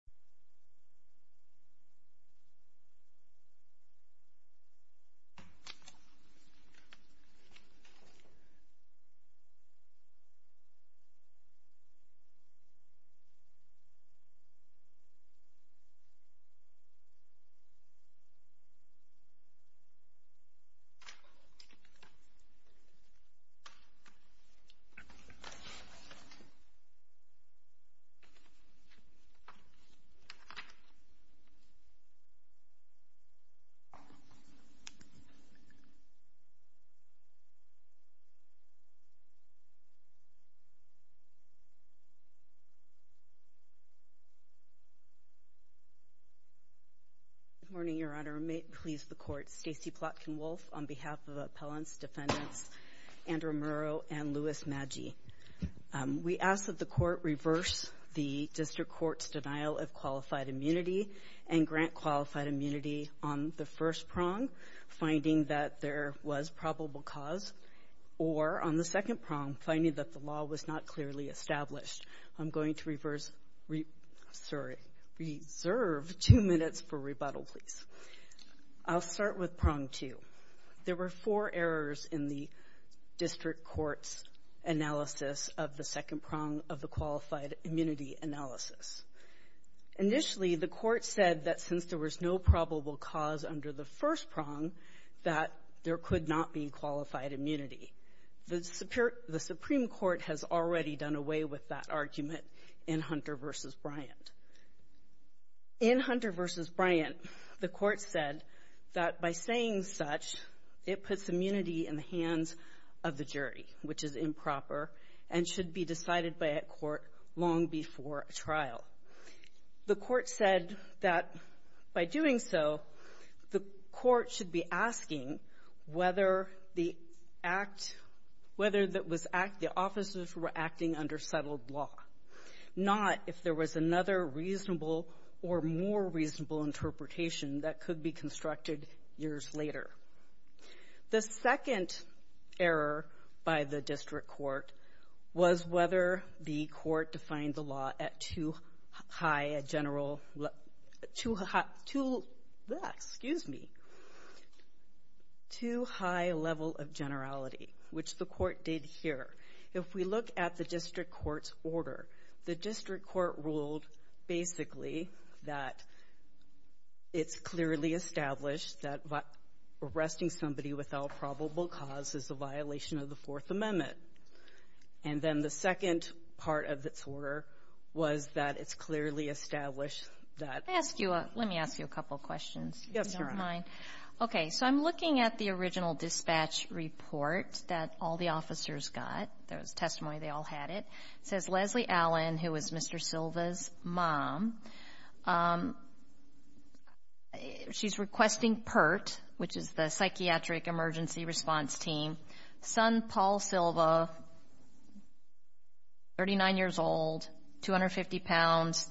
The Estate of Paul Silva v. Andrew Murrow Stacey Plotkin-Wolf, on behalf of Appellants, Defendants, Andrew Murrow, and Louis Maggi. We ask that the Court reverse the District Court's denial of qualified immunity and grant qualified immunity on the first prong, finding that there was probable cause, or on the second prong, finding that the law was not clearly established. I'm going to reserve two minutes for rebuttal, please. I'll start with prong two. There were four errors in the District Court's analysis of the second prong of the qualified immunity analysis. Initially, the Court said that since there was no probable cause under the first prong, that there could not be qualified immunity. The Supreme Court has already done away with that argument in Hunter v. Bryant. In Hunter v. Bryant, the Court said that by saying such, it puts immunity in the hands of the jury, which is improper and should be decided by a court long before a trial. The Court said that by doing so, the Court should be asking whether the officers who were acting under settled law, not if there was another reasonable or more reasonable interpretation that could be constructed years later. The second error by the District Court was whether the Court defined the law at too high a general – excuse me – too high a level of generality, which the Court did here. If we look at the District Court's order, the District Court ruled basically that it's clearly established that arresting somebody without probable cause is a violation of the Fourth Amendment. And then the second part of its order was that it's clearly established that – Let me ask you a couple questions. Yes, Your Honor. Okay, so I'm looking at the original dispatch report that all the officers got. There was testimony they all had it. It says Leslie Allen, who was Mr. Silva's mom, she's requesting PERT, which is the Psychiatric Emergency Response Team. Son, Paul Silva, 39 years old, 250 pounds.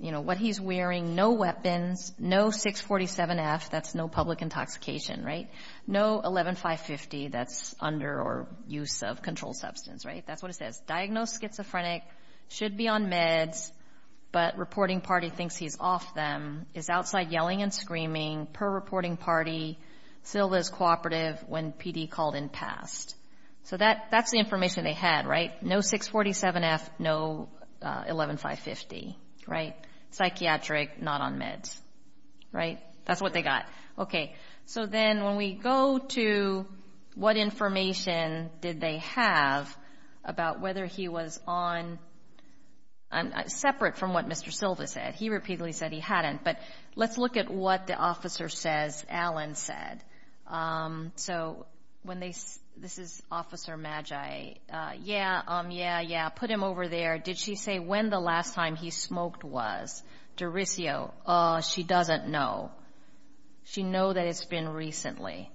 You know, what he's wearing, no weapons, no 647F, that's no public intoxication, right? No 11-550, that's under or use of controlled substance, right? That's what it says. Diagnosed schizophrenic, should be on meds, but reporting party thinks he's off them. Is outside yelling and screaming. Per reporting party, Silva is cooperative when PD called in past. So that's the information they had, right? No 647F, no 11-550, right? Psychiatric, not on meds, right? That's what they got. Okay, so then when we go to what information did they have about whether he was on – separate from what Mr. Silva said. He repeatedly said he hadn't, but let's look at what the officer says Allen said. So when they – this is Officer Magi. Yeah, yeah, yeah, put him over there. Did she say when the last time he smoked was? Derisio, oh, she doesn't know. She know that it's been recently.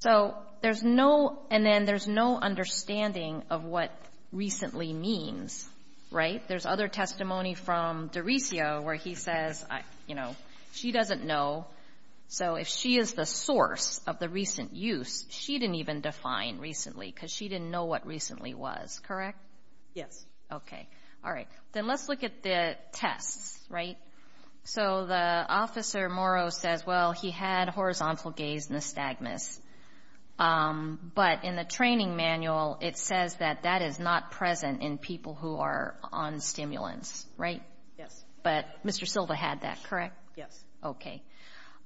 So there's no – and then there's no understanding of what recently means, right? There's other testimony from Derisio where he says, you know, she doesn't know. So if she is the source of the recent use, she didn't even define recently because she didn't know what recently was, correct? Yes. Okay, all right. Then let's look at the tests, right? So the officer, Moro, says, well, he had horizontal gaze nystagmus, but in the training manual it says that that is not present in people who are on stimulants, right? Yes. But Mr. Silva had that, correct? Yes. Okay.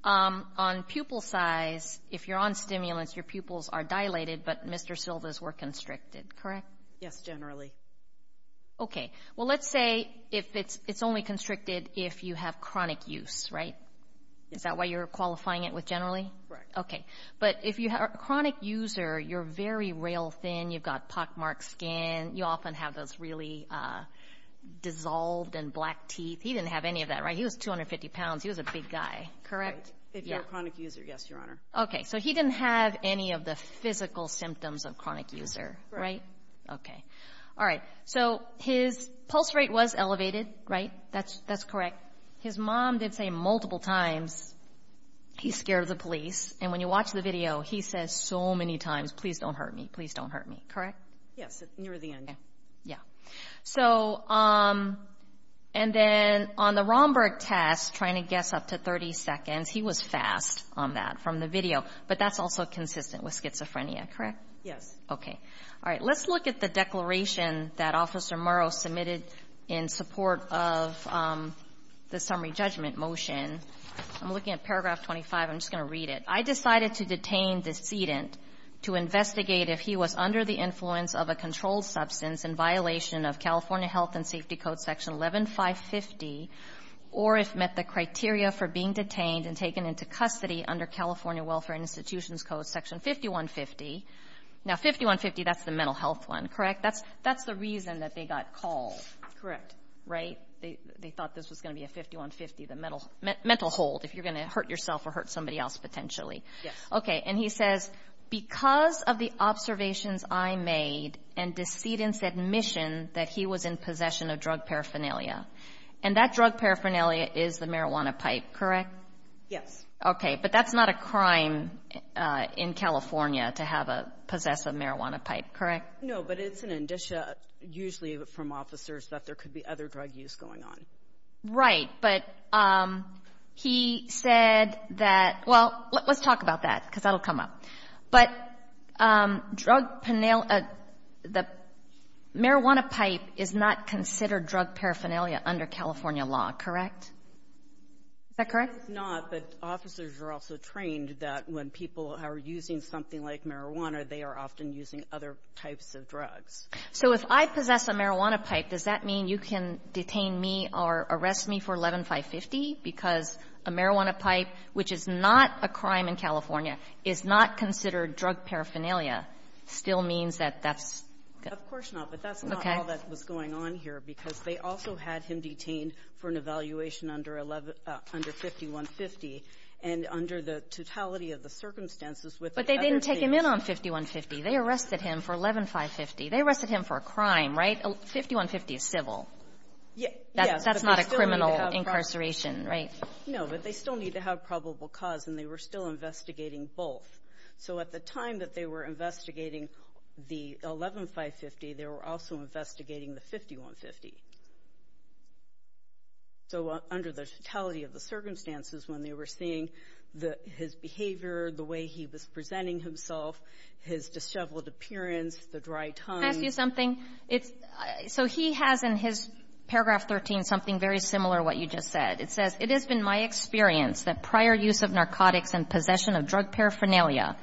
On pupil size, if you're on stimulants, your pupils are dilated, but Mr. Silva's were constricted, correct? Yes, generally. Okay. Well, let's say it's only constricted if you have chronic use, right? Is that why you're qualifying it with generally? Right. Okay. But if you are a chronic user, you're very rail thin, you've got pockmarked skin, you often have those really dissolved and black teeth. He didn't have any of that, right? He was 250 pounds. He was a big guy, correct? If you're a chronic user, yes, Your Honor. Okay. So he didn't have any of the physical symptoms of chronic user, right? Okay. All right. So his pulse rate was elevated, right? That's correct. His mom did say multiple times, he's scared of the police. And when you watch the video, he says so many times, please don't hurt me, please don't hurt me, correct? Yes, near the end. Yeah. So and then on the Romberg test, trying to guess up to 30 seconds, he was fast on that from the video. But that's also consistent with schizophrenia, correct? Yes. Okay. All right. Let's look at the declaration that Officer Murrow submitted in support of the summary judgment motion. I'm looking at paragraph 25. I'm just going to read it. I decided to detain the decedent to investigate if he was under the influence of a controlled substance in violation of California Health and Safety Code section 11-550, or if met the criteria for being detained and taken into custody under California Welfare and Institutions Code section 5150. Now 5150, that's the mental health one, correct? That's the reason that they got called. Right? They thought this was going to be a 5150, the mental hold, if you're going to hurt yourself or hurt somebody else potentially. Yes. Okay. And he says, because of the observations I made and decedent's admission that he was in possession of drug paraphernalia, and that drug paraphernalia is the marijuana pipe, correct? Yes. Okay. But that's not a crime in California to have a possessive marijuana pipe, correct? No. But it's an indicia, usually from officers, that there could be other drug use going on. Right. But he said that, well, let's talk about that, because that will come up. But drug paraphernalia, the marijuana pipe is not considered drug paraphernalia under California law, correct? Is that correct? That is not, but officers are also trained that when people are using something like marijuana, they are often using other types of drugs. So if I possess a marijuana pipe, does that mean you can detain me or arrest me for 11-550? Because a marijuana pipe, which is not a crime in California, is not considered drug paraphernalia, still means that that's going to be a crime. Of course not. But that's not all that was going on here, because they also had him detained for an evaluation under 5150, and under the totality of the circumstances with the other things. But they didn't take him in on 5150. They arrested him for 11-550. They arrested him for a crime, right? 5150 is civil. Yes. That's not a criminal incarceration, right? No, but they still need to have probable cause, and they were still investigating both. So at the time that they were investigating the 11-550, they were also investigating the 5150. So under the totality of the circumstances when they were seeing his behavior, the way he was presenting himself, his disheveled appearance, the dry tongue. Can I ask you something? It's so he has in his paragraph 13 something very similar to what you just said. It says, It has been my experience that prior use of narcotics and possession of drug paraphernalia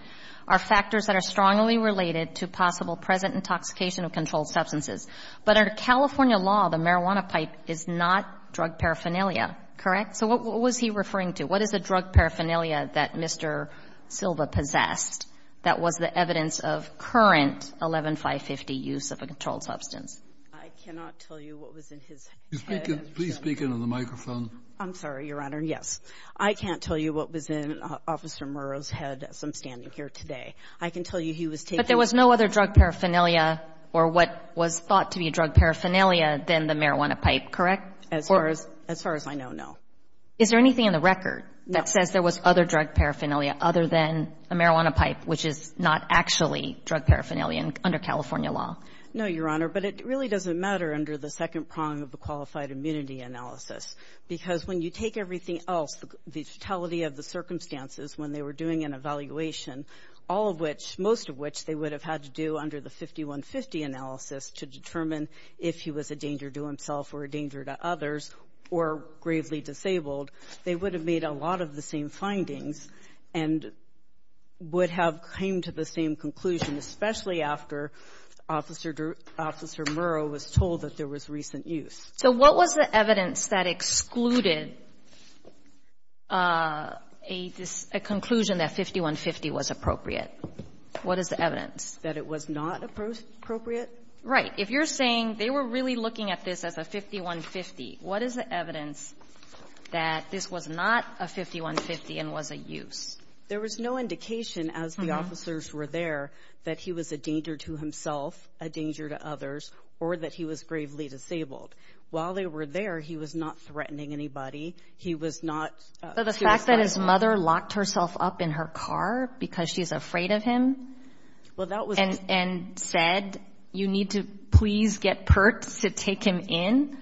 are factors that are strongly related to possible present intoxication of controlled substances. But under California law, the marijuana pipe is not drug paraphernalia. Correct? So what was he referring to? What is the drug paraphernalia that Mr. Silva possessed that was the evidence of current 11-550 use of a controlled substance? I cannot tell you what was in his head. Please speak into the microphone. I'm sorry, Your Honor. Yes. I can't tell you what was in Officer Murrow's head as I'm standing here today. I can tell you he was taking the drug paraphernalia. Or what was thought to be drug paraphernalia than the marijuana pipe. As far as I know, no. Is there anything in the record that says there was other drug paraphernalia other than a marijuana pipe, which is not actually drug paraphernalia under California law? No, Your Honor. But it really doesn't matter under the second prong of the qualified immunity analysis. Because when you take everything else, the totality of the circumstances when they were doing an evaluation, all of which, most of which, they would have had to do under the 5150 analysis to determine if he was a danger to himself or a danger to others or gravely disabled, they would have made a lot of the same findings and would have came to the same conclusion, especially after Officer Murrow was told that there was recent use. So what was the evidence that excluded a conclusion that 5150 was appropriate? What is the evidence? That it was not appropriate? Right. If you're saying they were really looking at this as a 5150, what is the evidence that this was not a 5150 and was a use? There was no indication as the officers were there that he was a danger to himself, a danger to others, or that he was gravely disabled. While they were there, he was not threatening anybody. He was not suiciding. So the fact that his mother locked herself up in her car because she's afraid of him and said, you need to please get Pertz to take him in,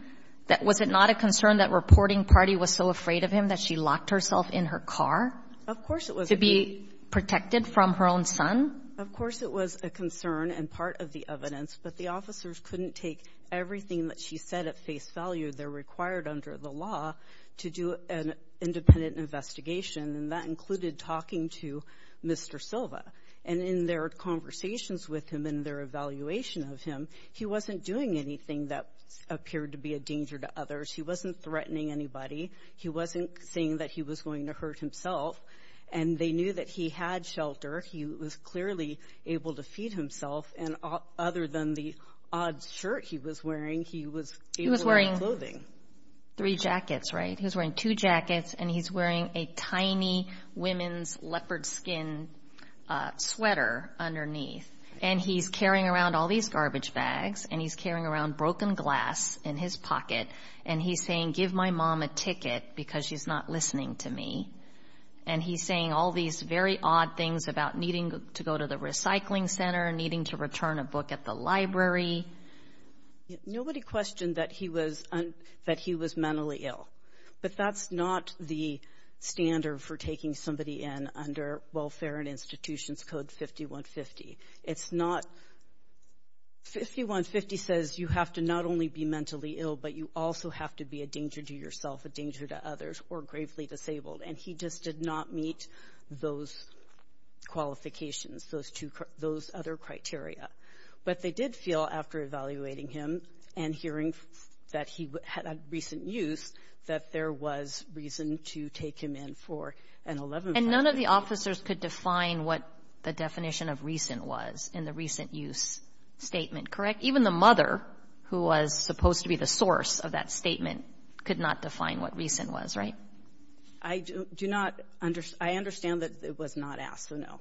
was it not a concern that reporting party was so afraid of him that she locked herself in her car? Of course it was. To be protected from her own son? Of course it was a concern and part of the evidence. But the officers couldn't take everything that she said at face value. They're required under the law to do an independent investigation, and that included talking to Mr. Silva. And in their conversations with him and their evaluation of him, he wasn't doing anything that appeared to be a danger to others. He wasn't threatening anybody. He wasn't saying that he was going to hurt himself. And they knew that he had shelter. He was clearly able to feed himself. And other than the odd shirt he was wearing, he was able to wear clothing. He was wearing three jackets, right? He was wearing two jackets, and he's wearing a tiny women's leopard skin sweater underneath. And he's carrying around all these garbage bags, and he's carrying around broken glass in his pocket. And he's saying, give my mom a ticket because she's not listening to me. And he's saying all these very odd things about needing to go to the recycling center, needing to return a book at the library. Nobody questioned that he was mentally ill, but that's not the standard for taking somebody in under Welfare and Institutions Code 5150. It's not. 5150 says you have to not only be mentally ill, but you also have to be a danger to yourself, a danger to others, or gravely disabled. And he just did not meet those qualifications, those other criteria. But they did feel, after evaluating him and hearing that he had recent use, that there was reason to take him in for an 11-month period. And none of the officers could define what the definition of recent was in the recent use statement, correct? Even the mother, who was supposed to be the source of that statement, could not define what recent was, right? I do not understand. I understand that it was not asked, so no.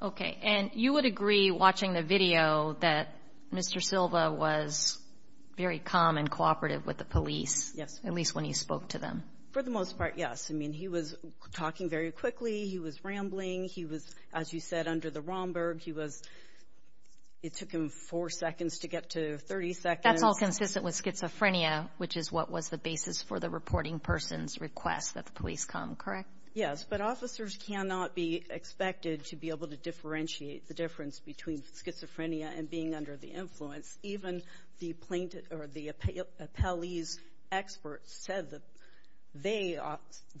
Okay. And you would agree, watching the video, that Mr. Silva was very calm and cooperative with the police. Yes. At least when you spoke to them. For the most part, yes. I mean, he was talking very quickly. He was rambling. He was, as you said, under the Romberg. It took him four seconds to get to 30 seconds. That's all consistent with schizophrenia, which is what was the basis for the reporting person's request that the police come, correct? Yes. But officers cannot be expected to be able to differentiate the difference between schizophrenia and being under the influence. Even the appellees' experts said that they,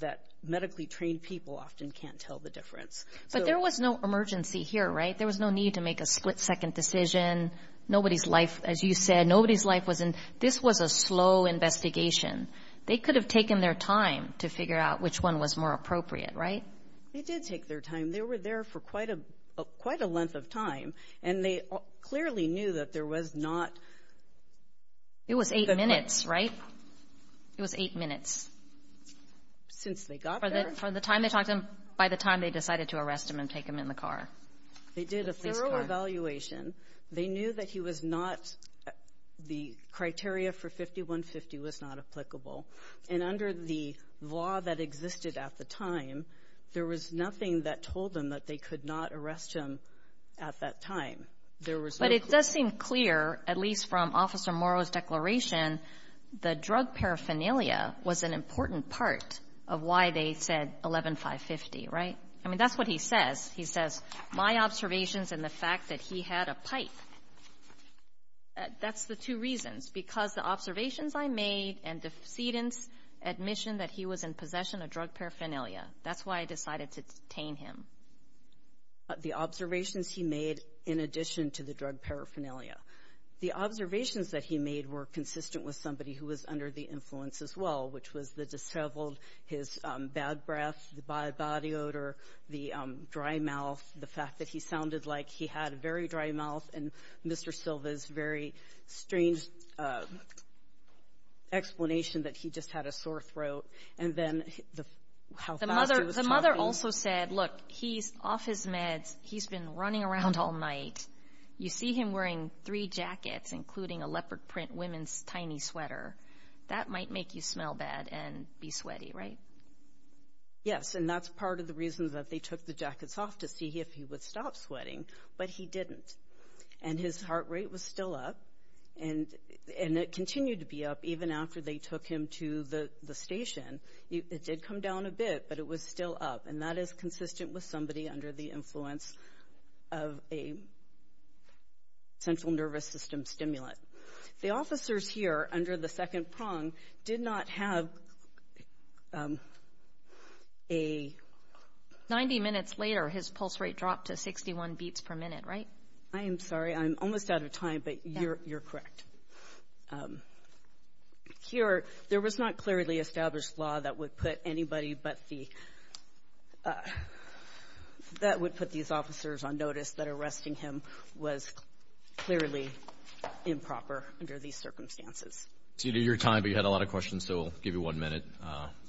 that medically trained people, often can't tell the difference. But there was no emergency here, right? There was no need to make a split-second decision. Nobody's life, as you said, nobody's life was in. This was a slow investigation. They could have taken their time to figure out which one was more appropriate, right? They did take their time. They were there for quite a length of time. And they clearly knew that there was not. It was eight minutes, right? It was eight minutes. Since they got there. By the time they decided to arrest him and take him in the car. They did a thorough evaluation. They knew that he was not, the criteria for 5150 was not applicable. And under the law that existed at the time, there was nothing that told them that they could not arrest him at that time. There was no clue. But it does seem clear, at least from Officer Morrow's declaration, the drug paraphernalia was an important part of why they said 11-550, right? I mean, that's what he says. He says, my observations and the fact that he had a pipe. That's the two reasons. Because the observations I made and the decedent's admission that he was in possession of drug paraphernalia. That's why I decided to detain him. The observations he made in addition to the drug paraphernalia. The observations that he made were consistent with somebody who was under the influence as well, which was the disheveled, his bad breath, the bad body odor, the dry mouth, the fact that he sounded like he had a very dry mouth, and Mr. Silva's very strange explanation that he just had a sore throat. And then how fast he was talking. The mother also said, look, he's off his meds. He's been running around all night. You see him wearing three jackets, including a leopard print women's tiny sweater. That might make you smell bad and be sweaty, right? Yes, and that's part of the reason that they took the jackets off to see if he would stop sweating, but he didn't. And his heart rate was still up, and it continued to be up even after they took him to the station. It did come down a bit, but it was still up. And that is consistent with somebody under the influence of a central nervous system stimulant. The officers here under the second prong did not have a 90 minutes later, his pulse rate dropped to 61 beats per minute, right? I am sorry. I'm almost out of time, but you're correct. Here, there was not clearly established law that would put anybody but the, that would put these officers on notice that arresting him was clearly improper under these circumstances. You did your time, but you had a lot of questions, so we'll give you one minute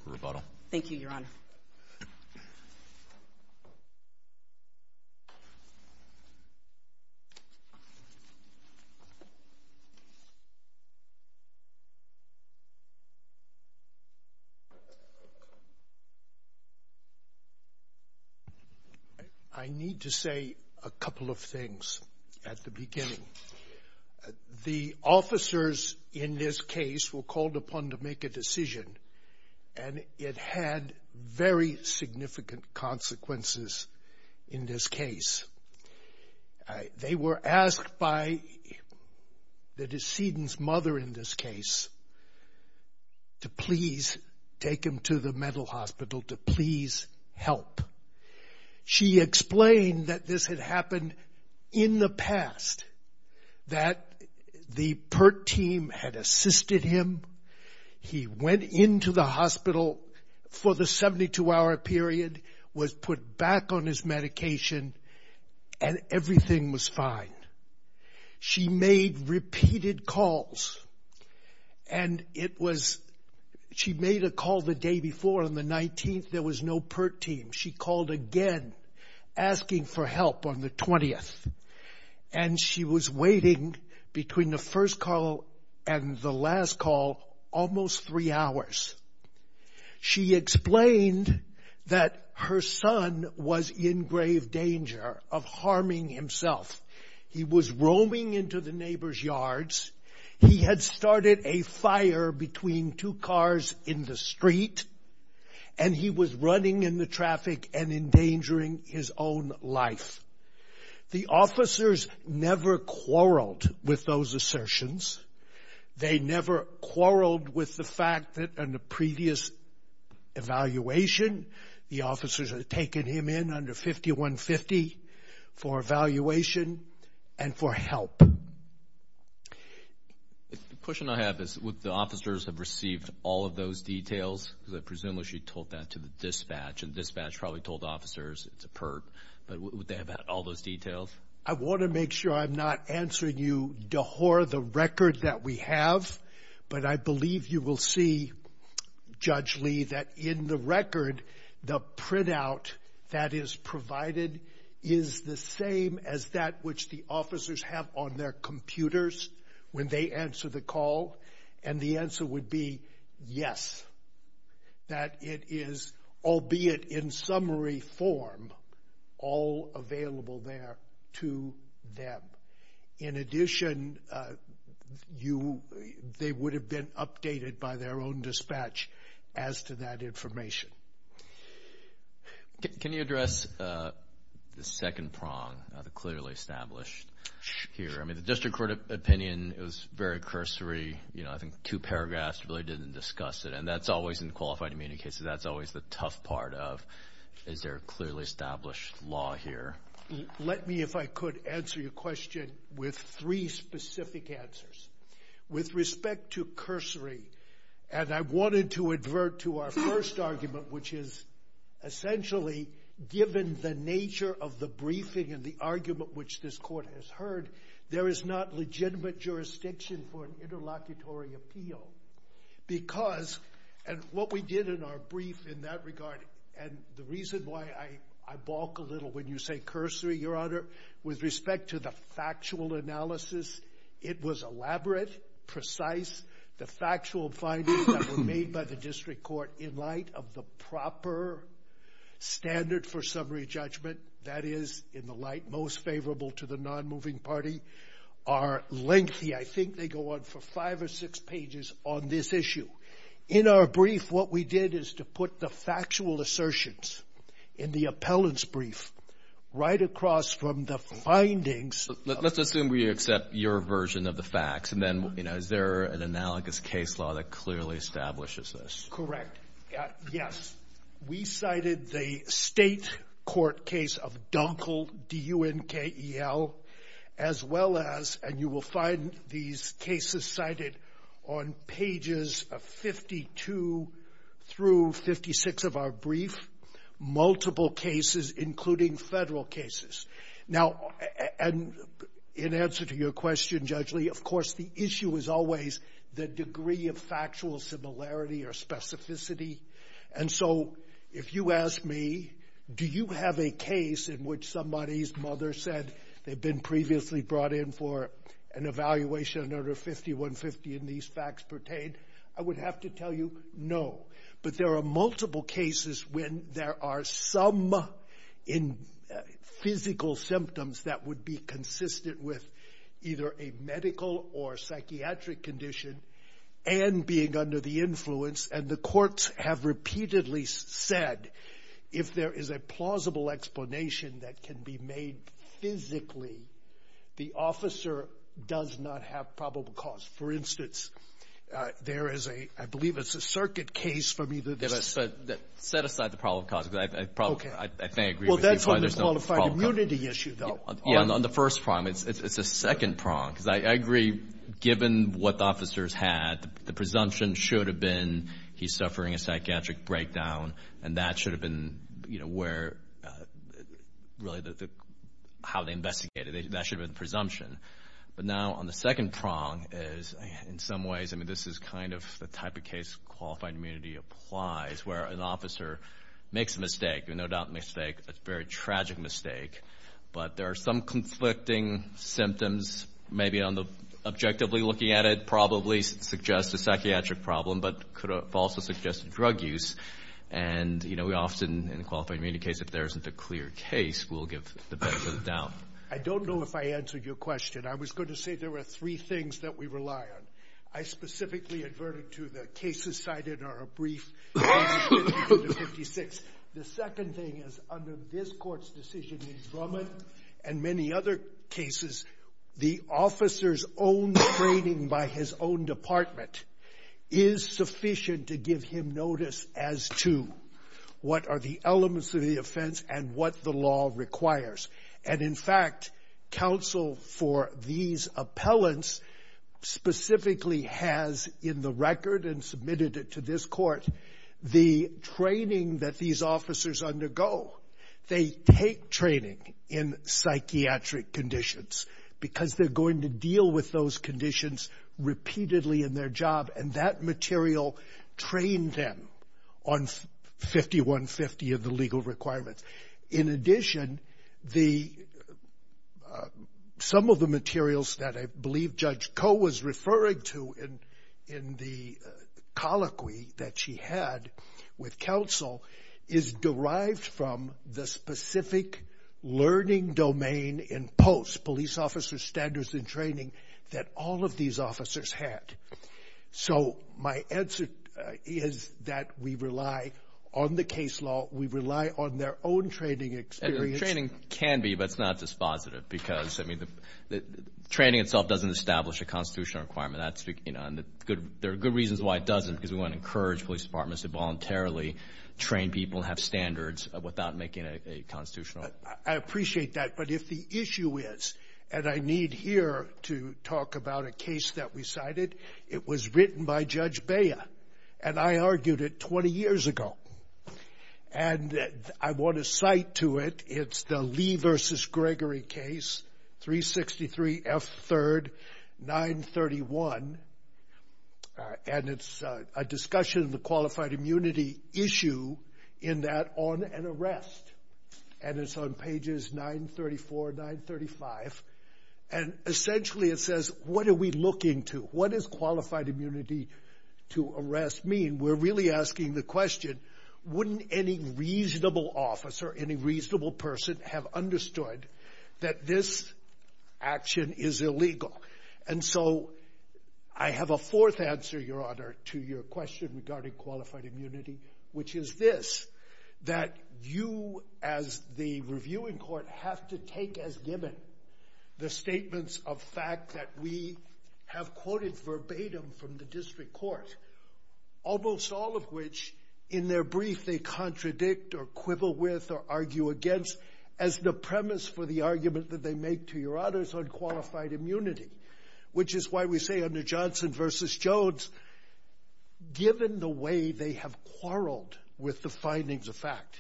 for rebuttal. Thank you, Your Honor. I need to say a couple of things at the beginning. The officers in this case were called upon to make a decision, and it had very significant consequences in this case. They were asked by the decedent's mother in this case to please take him to the She explained that this had happened in the past, that the PERT team had assisted him. He went into the hospital for the 72-hour period, was put back on his medication, and everything was fine. She made repeated calls, and it was, she made a call the day before on the 19th. There was no PERT team. She called again asking for help on the 20th, and she was waiting between the first call and the last call almost three hours. She explained that her son was in grave danger of harming himself. He was roaming into the neighbor's yards. He had started a fire between two cars in the street, and he was running in the traffic and endangering his own life. The officers never quarreled with those assertions. They never quarreled with the fact that in the previous evaluation, the officers had taken him in under 5150 for evaluation and for help. The question I have is would the officers have received all of those details? Because I presume she told that to the dispatch, and the dispatch probably told the officers it's a PERT. But would they have had all those details? I want to make sure I'm not answering you to whore the record that we have, but I provided is the same as that which the officers have on their computers when they answer the call, and the answer would be yes, that it is, albeit in summary form, all available there to them. In addition, they would have been updated by their own dispatch as to that Can you address the second prong, the clearly established here? I mean, the district court opinion is very cursory. You know, I think two paragraphs really didn't discuss it, and that's always in qualified immunity cases. That's always the tough part of is there a clearly established law here? Let me, if I could, answer your question with three specific answers. With respect to cursory, and I wanted to advert to our first argument, which is essentially given the nature of the briefing and the argument which this court has heard, there is not legitimate jurisdiction for an interlocutory appeal. Because, and what we did in our brief in that regard, and the reason why I balk a little when you say cursory, Your Honor, with respect to the factual analysis, it was elaborate, precise, the factual findings that were made by the district court in light of the proper standard for summary judgment, that is, in the light most favorable to the non-moving party, are lengthy. I think they go on for five or six pages on this issue. In our brief, what we did is to put the factual assertions in the appellant's brief right across from the findings. Let's assume we accept your version of the facts, and then, you know, is there an analogous case law that clearly establishes this? Yes. We cited the state court case of Dunkel, D-U-N-K-E-L, as well as, and you will find these cases cited on pages of 52 through 56 of our brief, multiple cases, including federal cases. Now, in answer to your question, Judge Lee, of course, the issue is always the degree of factual similarity or specificity, and so if you ask me, do you have a case in which somebody's mother said they'd been previously brought in for an evaluation under 5150, and these facts pertain, I would have to tell you no, but there are multiple cases when there are some physical symptoms that would be consistent with either a medical or psychiatric condition and being under the influence, and the courts have repeatedly said if there is a plausible explanation that can be made physically, the officer does not have probable cause. For instance, there is a, I believe it's a circuit case from either this or that. Set aside the probable cause. Okay. I think there's no probable cause. Well, that's on the qualified immunity issue, though. Yeah. On the first prong. It's the second prong, because I agree, given what the officers had, the presumption should have been he's suffering a psychiatric breakdown, and that should have been, you know, where really the, how they investigated it, that should have been the presumption. But now, on the second prong, is in some ways, I mean, this is kind of the type of case qualified immunity applies, where an officer makes a mistake, no doubt a mistake, a very tragic mistake, but there are some conflicting symptoms, maybe on the objectively looking at it, probably suggests a psychiatric problem, but could have also suggested drug use, and, you know, we often, in a qualified immunity case, if there isn't a clear case, we'll give the best of the doubt. I don't know if I answered your question. I was going to say there were three things that we rely on. I specifically adverted to the cases cited are a brief case of 1956. The second thing is, under this court's decision in Drummond, and many other cases, the officer's own training by his own department is sufficient to give him notice as to what are the elements of the offense and what the law requires. And, in fact, counsel for these appellants specifically has, in the record and submitted it to this court, the training that these officers undergo. They take training in psychiatric conditions because they're going to deal with those conditions repeatedly in their job, and that material trained them on 5150 and the legal requirements. In addition, some of the materials that I believe Judge Koh was referring to in the colloquy that she had with counsel is derived from the specific learning domain in POST, police officers' standards and training, that all of these officers had. So my answer is that we rely on the case law. We rely on their own training experience. And the training can be, but it's not dispositive because, I mean, the training itself doesn't establish a constitutional requirement. There are good reasons why it doesn't because we want to encourage police departments to voluntarily train people and have standards without making a constitutional requirement. I appreciate that. But if the issue is, and I need here to talk about a case that we cited, it was written by Judge Bea, and I argued it 20 years ago. And I want to cite to it. It's the Lee v. Gregory case, 363 F. 3rd, 931, and it's a discussion of the qualified immunity issue in that on an arrest. And it's on pages 934, 935. And essentially it says, what are we looking to? What does qualified immunity to arrest mean? We're really asking the question, wouldn't any reasonable officer, any reasonable person have understood that this action is illegal? And so I have a fourth answer, Your Honor, to your question regarding qualified immunity, which is this, that you, as the reviewing court, have to take as given the statements of fact that we have quoted verbatim from the district court, almost all of which, in their brief, they contradict or quibble with or argue against as the premise for the argument that they make to your honors on qualified immunity, which is why we say under Johnson v. Jones, given the way they have quarreled with the findings of fact,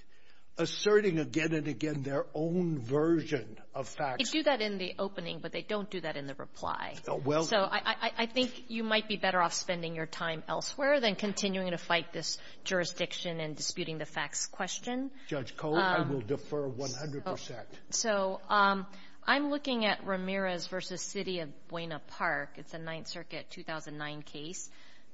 asserting again and again their own version of facts. They do that in the opening, but they don't do that in the reply. So I think you might be better off spending your time elsewhere than continuing to fight this jurisdiction and disputing the facts question. Judge Cole, I will defer 100 percent. So I'm looking at Ramirez v. City of Buena Park. It's a Ninth Circuit 2009 case.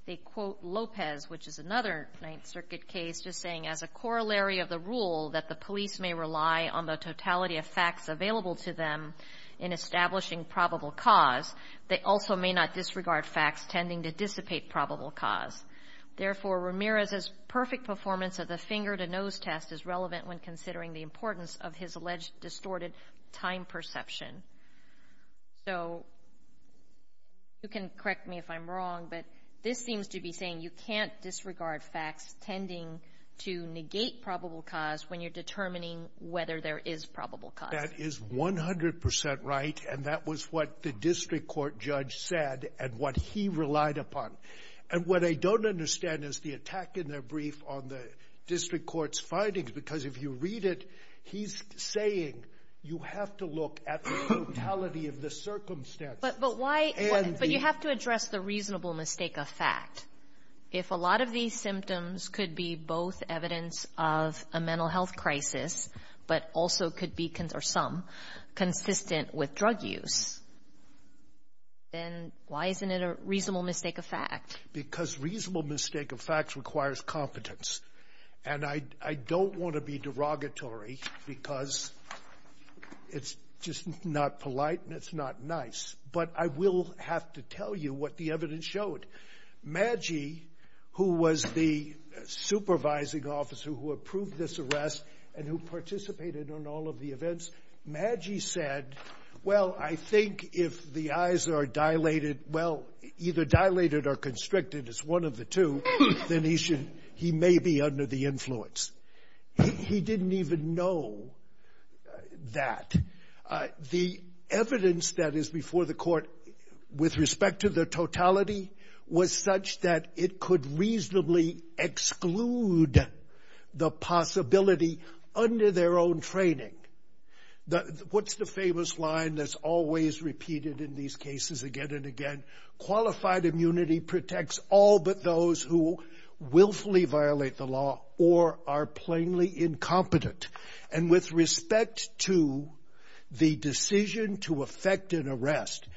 They quote Lopez, which is another Ninth Circuit case, just saying, as a corollary of the rule that the police may rely on the totality of facts available to them in establishing probable cause, they also may not disregard facts tending to dissipate probable cause. Therefore, Ramirez's perfect performance of the finger-to-nose test is relevant when considering the importance of his alleged distorted time perception. So you can correct me if I'm wrong, but this seems to be saying you can't disregard facts tending to negate probable cause when you're determining whether there is probable cause. That is 100 percent right, and that was what the district court judge said and what he relied upon. And what I don't understand is the attack in their brief on the district court's findings, because if you read it, he's saying you have to look at the totality of the circumstances. But you have to address the reasonable mistake of fact. If a lot of these symptoms could be both evidence of a mental health crisis but also could be, or some, consistent with drug use, then why isn't it a reasonable mistake of fact? Because reasonable mistake of fact requires competence, and I don't want to be derogatory because it's just not polite and it's not nice, but I will have to tell you what the evidence showed. Maggi, who was the supervising officer who approved this arrest and who participated in all of the events, Maggi said, well, I think if the eyes are dilated, well, either dilated or constricted as one of the two, then he may be under the influence. He didn't even know that. The evidence that is before the court with respect to the totality was such that it could reasonably exclude the possibility under their own training. What's the famous line that's always repeated in these cases again and again? Qualified immunity protects all but those who willfully violate the law or are plainly incompetent. And with respect to the decision to effect an arrest,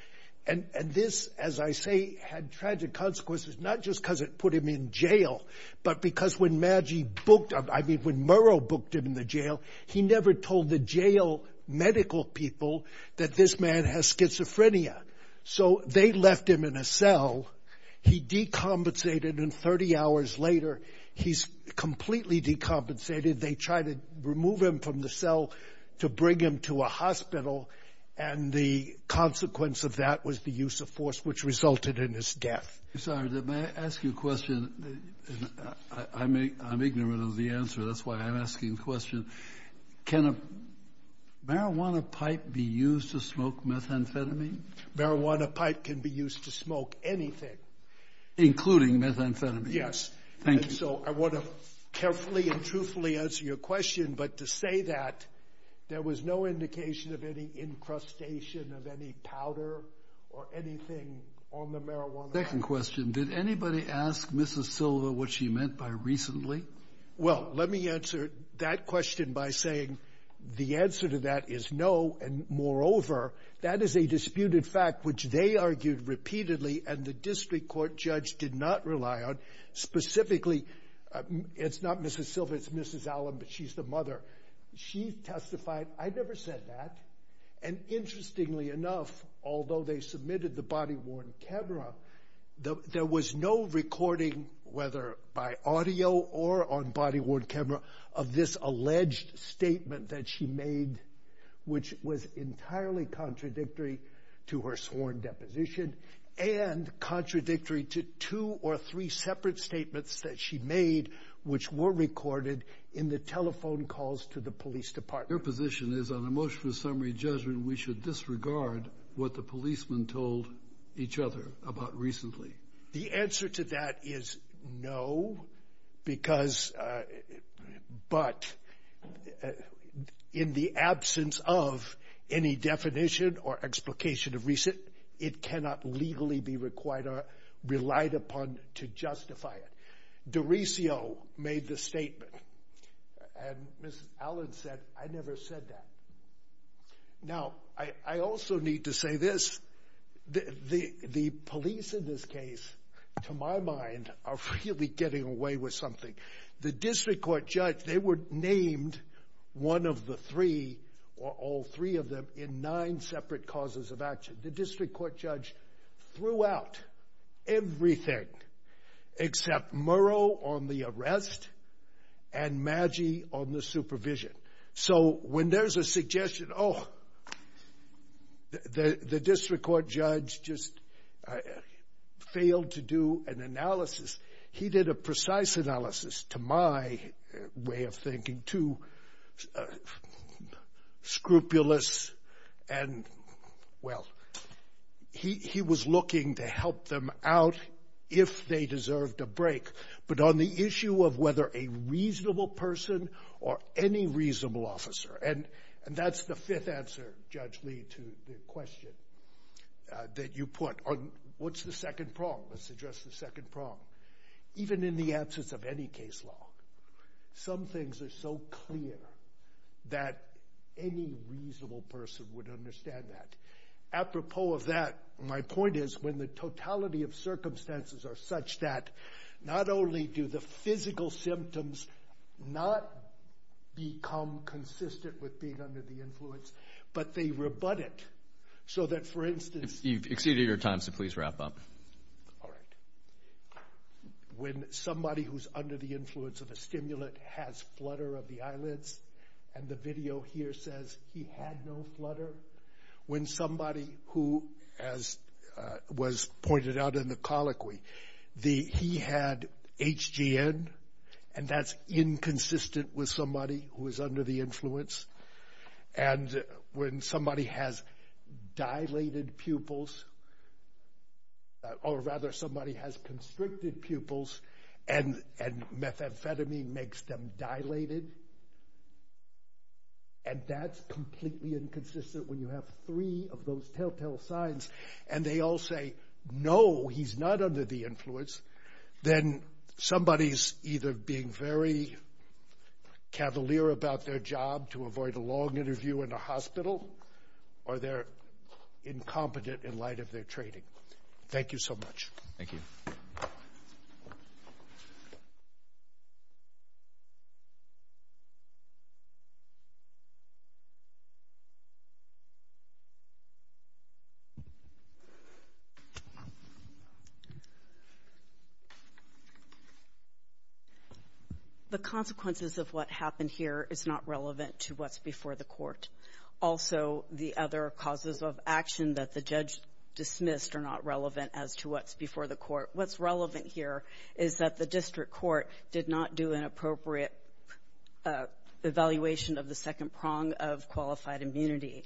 and this, as I say, had tragic consequences, not just because it put him in jail, but because when Maggi booked him, I mean, when Murrow booked him in the jail, he never told the jail medical people that this man has schizophrenia. So they left him in a cell. He decompensated, and 30 hours later, he's completely decompensated. They tried to remove him from the cell to bring him to a hospital, and the consequence of that was the use of force, which resulted in his death. I'm sorry. May I ask you a question? I'm ignorant of the answer. That's why I'm asking the question. Can a marijuana pipe be used to smoke methamphetamine? Marijuana pipe can be used to smoke anything. Including methamphetamine? Thank you. So I want to carefully and truthfully answer your question, but to say that there was no indication of any incrustation of any powder or anything on the marijuana pipe. Second question, did anybody ask Mrs. Silva what she meant by recently? Well, let me answer that question by saying the answer to that is no, and moreover, that is a disputed fact, which they argued repeatedly, and the district court judge did not rely on. Specifically, it's not Mrs. Silva. It's Mrs. Allen, but she's the mother. She testified. I never said that, and interestingly enough, although they submitted the body-worn camera, there was no recording, whether by audio or on body-worn camera, of this alleged statement that she made, which was entirely contradictory to her sworn deposition and contradictory to two or three separate statements that she made, which were recorded in the telephone calls to the police department. Your position is on a motion for summary judgment, and we should disregard what the policemen told each other about recently. The answer to that is no, but in the absence of any definition or explication of recent, it cannot legally be relied upon to justify it. DiRiccio made the statement, and Mrs. Allen said, I never said that. Now, I also need to say this. The police in this case, to my mind, are really getting away with something. The district court judge, they were named one of the three, or all three of them, in nine separate causes of action. The district court judge threw out everything except Murrow on the arrest and Maggi on the supervision. So when there's a suggestion, oh, the district court judge just failed to do an analysis, he did a precise analysis, to my way of thinking, too scrupulous and, well, he was looking to help them out if they deserved a break. But on the issue of whether a reasonable person or any reasonable officer, and that's the fifth answer, Judge Lee, to the question that you put. What's the second prong? Let's address the second prong. Even in the absence of any case law, some things are so clear that any reasonable person would understand that. Apropos of that, my point is when the totality of circumstances are such that not only do the physical symptoms not become consistent with being under the influence, but they rebut it so that, for instance... You've exceeded your time, so please wrap up. All right. When somebody who's under the influence of a stimulant has flutter of the eyelids, and the video here says he had no flutter, when somebody who, as was pointed out in the colloquy, he had HGN, and that's inconsistent with somebody who is under the influence, and when somebody has dilated pupils, or rather somebody has constricted pupils, and methamphetamine makes them dilated, and that's completely inconsistent when you have three of those telltale signs, and they all say, no, he's not under the influence, then somebody's either being very cavalier about their job to avoid a long interview in a hospital, or they're incompetent in light of their training. Thank you so much. Thank you. The consequences of what happened here is not relevant to what's before the court. Also, the other causes of action that the judge dismissed are not relevant as to what's before the court. What's relevant here is that the district court did not do an appropriate evaluation of the second prong of qualified immunity,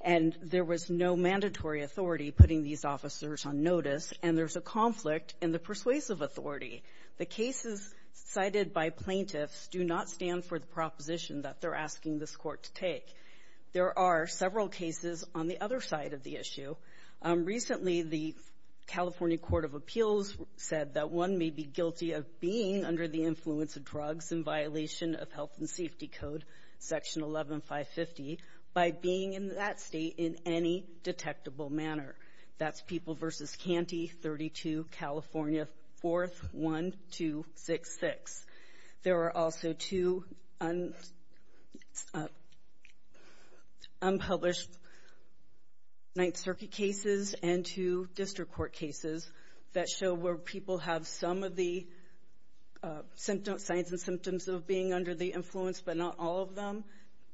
and there was no mandatory authority putting these officers on notice, and there's a conflict in the persuasive authority. The cases cited by plaintiffs do not stand for the proposition that they're asking this court to take. There are several cases on the other side of the issue. Recently, the California Court of Appeals said that one may be guilty of being under the influence of drugs in violation of health and safety code, Section 11-550, by being in that state in any detectable manner. That's People v. Canty, 32, California, 4th, 1266. There are also two unpublished Ninth Circuit cases and two district court cases that show where people have some of the signs and symptoms of being under the influence, but not all of them.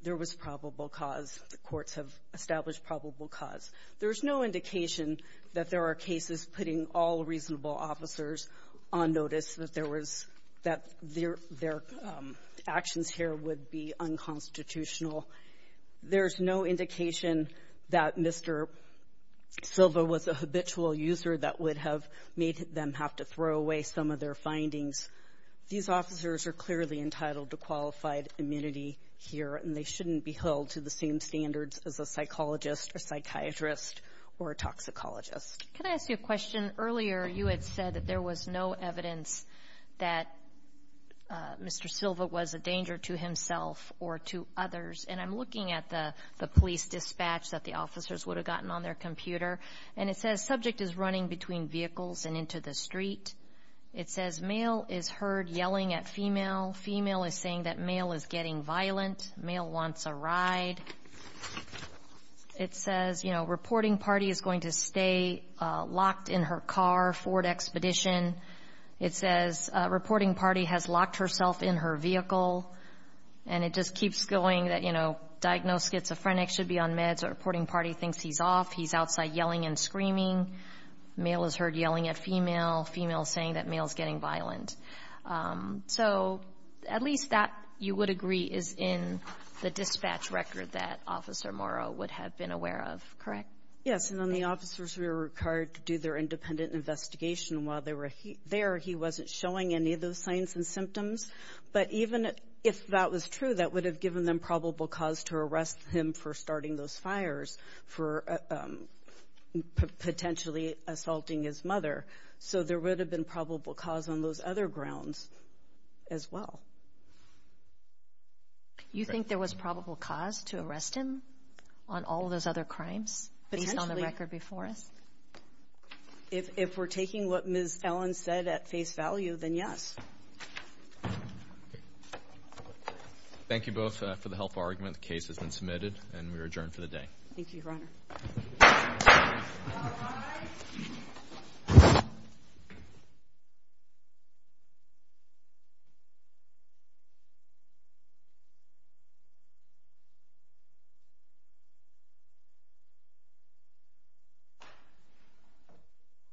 There was probable cause. The courts have established probable cause. There's no indication that there are cases putting all reasonable officers on notice that there was that their actions here would be unconstitutional. There's no indication that Mr. Silva was a habitual user that would have made them have to throw away some of their findings. These officers are clearly entitled to qualified immunity here, and they shouldn't be held to the same standards as a psychologist or psychiatrist or a toxicologist. Can I ask you a question? Earlier you had said that there was no evidence that Mr. Silva was a danger to himself or to others, and I'm looking at the police dispatch that the officers would have gotten on their computer, and it says subject is running between vehicles and into the street. It says male is heard yelling at female. Female is saying that male is getting violent. Male wants a ride. It says, you know, reporting party is going to stay locked in her car, Ford Expedition. It says reporting party has locked herself in her vehicle, and it just keeps going that, you know, diagnosed schizophrenic should be on meds, or reporting party thinks he's off, he's outside yelling and screaming. Male is heard yelling at female. Female is saying that male is getting violent. So at least that, you would agree, is in the dispatch record that Officer Morrow would have been aware of, correct? Yes, and on the officers who were required to do their independent investigation while they were there, he wasn't showing any of those signs and symptoms. But even if that was true, that would have given them probable cause to arrest him for starting those fires, for potentially assaulting his mother. So there would have been probable cause on those other grounds as well. You think there was probable cause to arrest him on all those other crimes based on the record before us? If we're taking what Ms. Ellen said at face value, then yes. Thank you both for the helpful argument. The case has been submitted, and we are adjourned for the day. Thank you, Your Honor.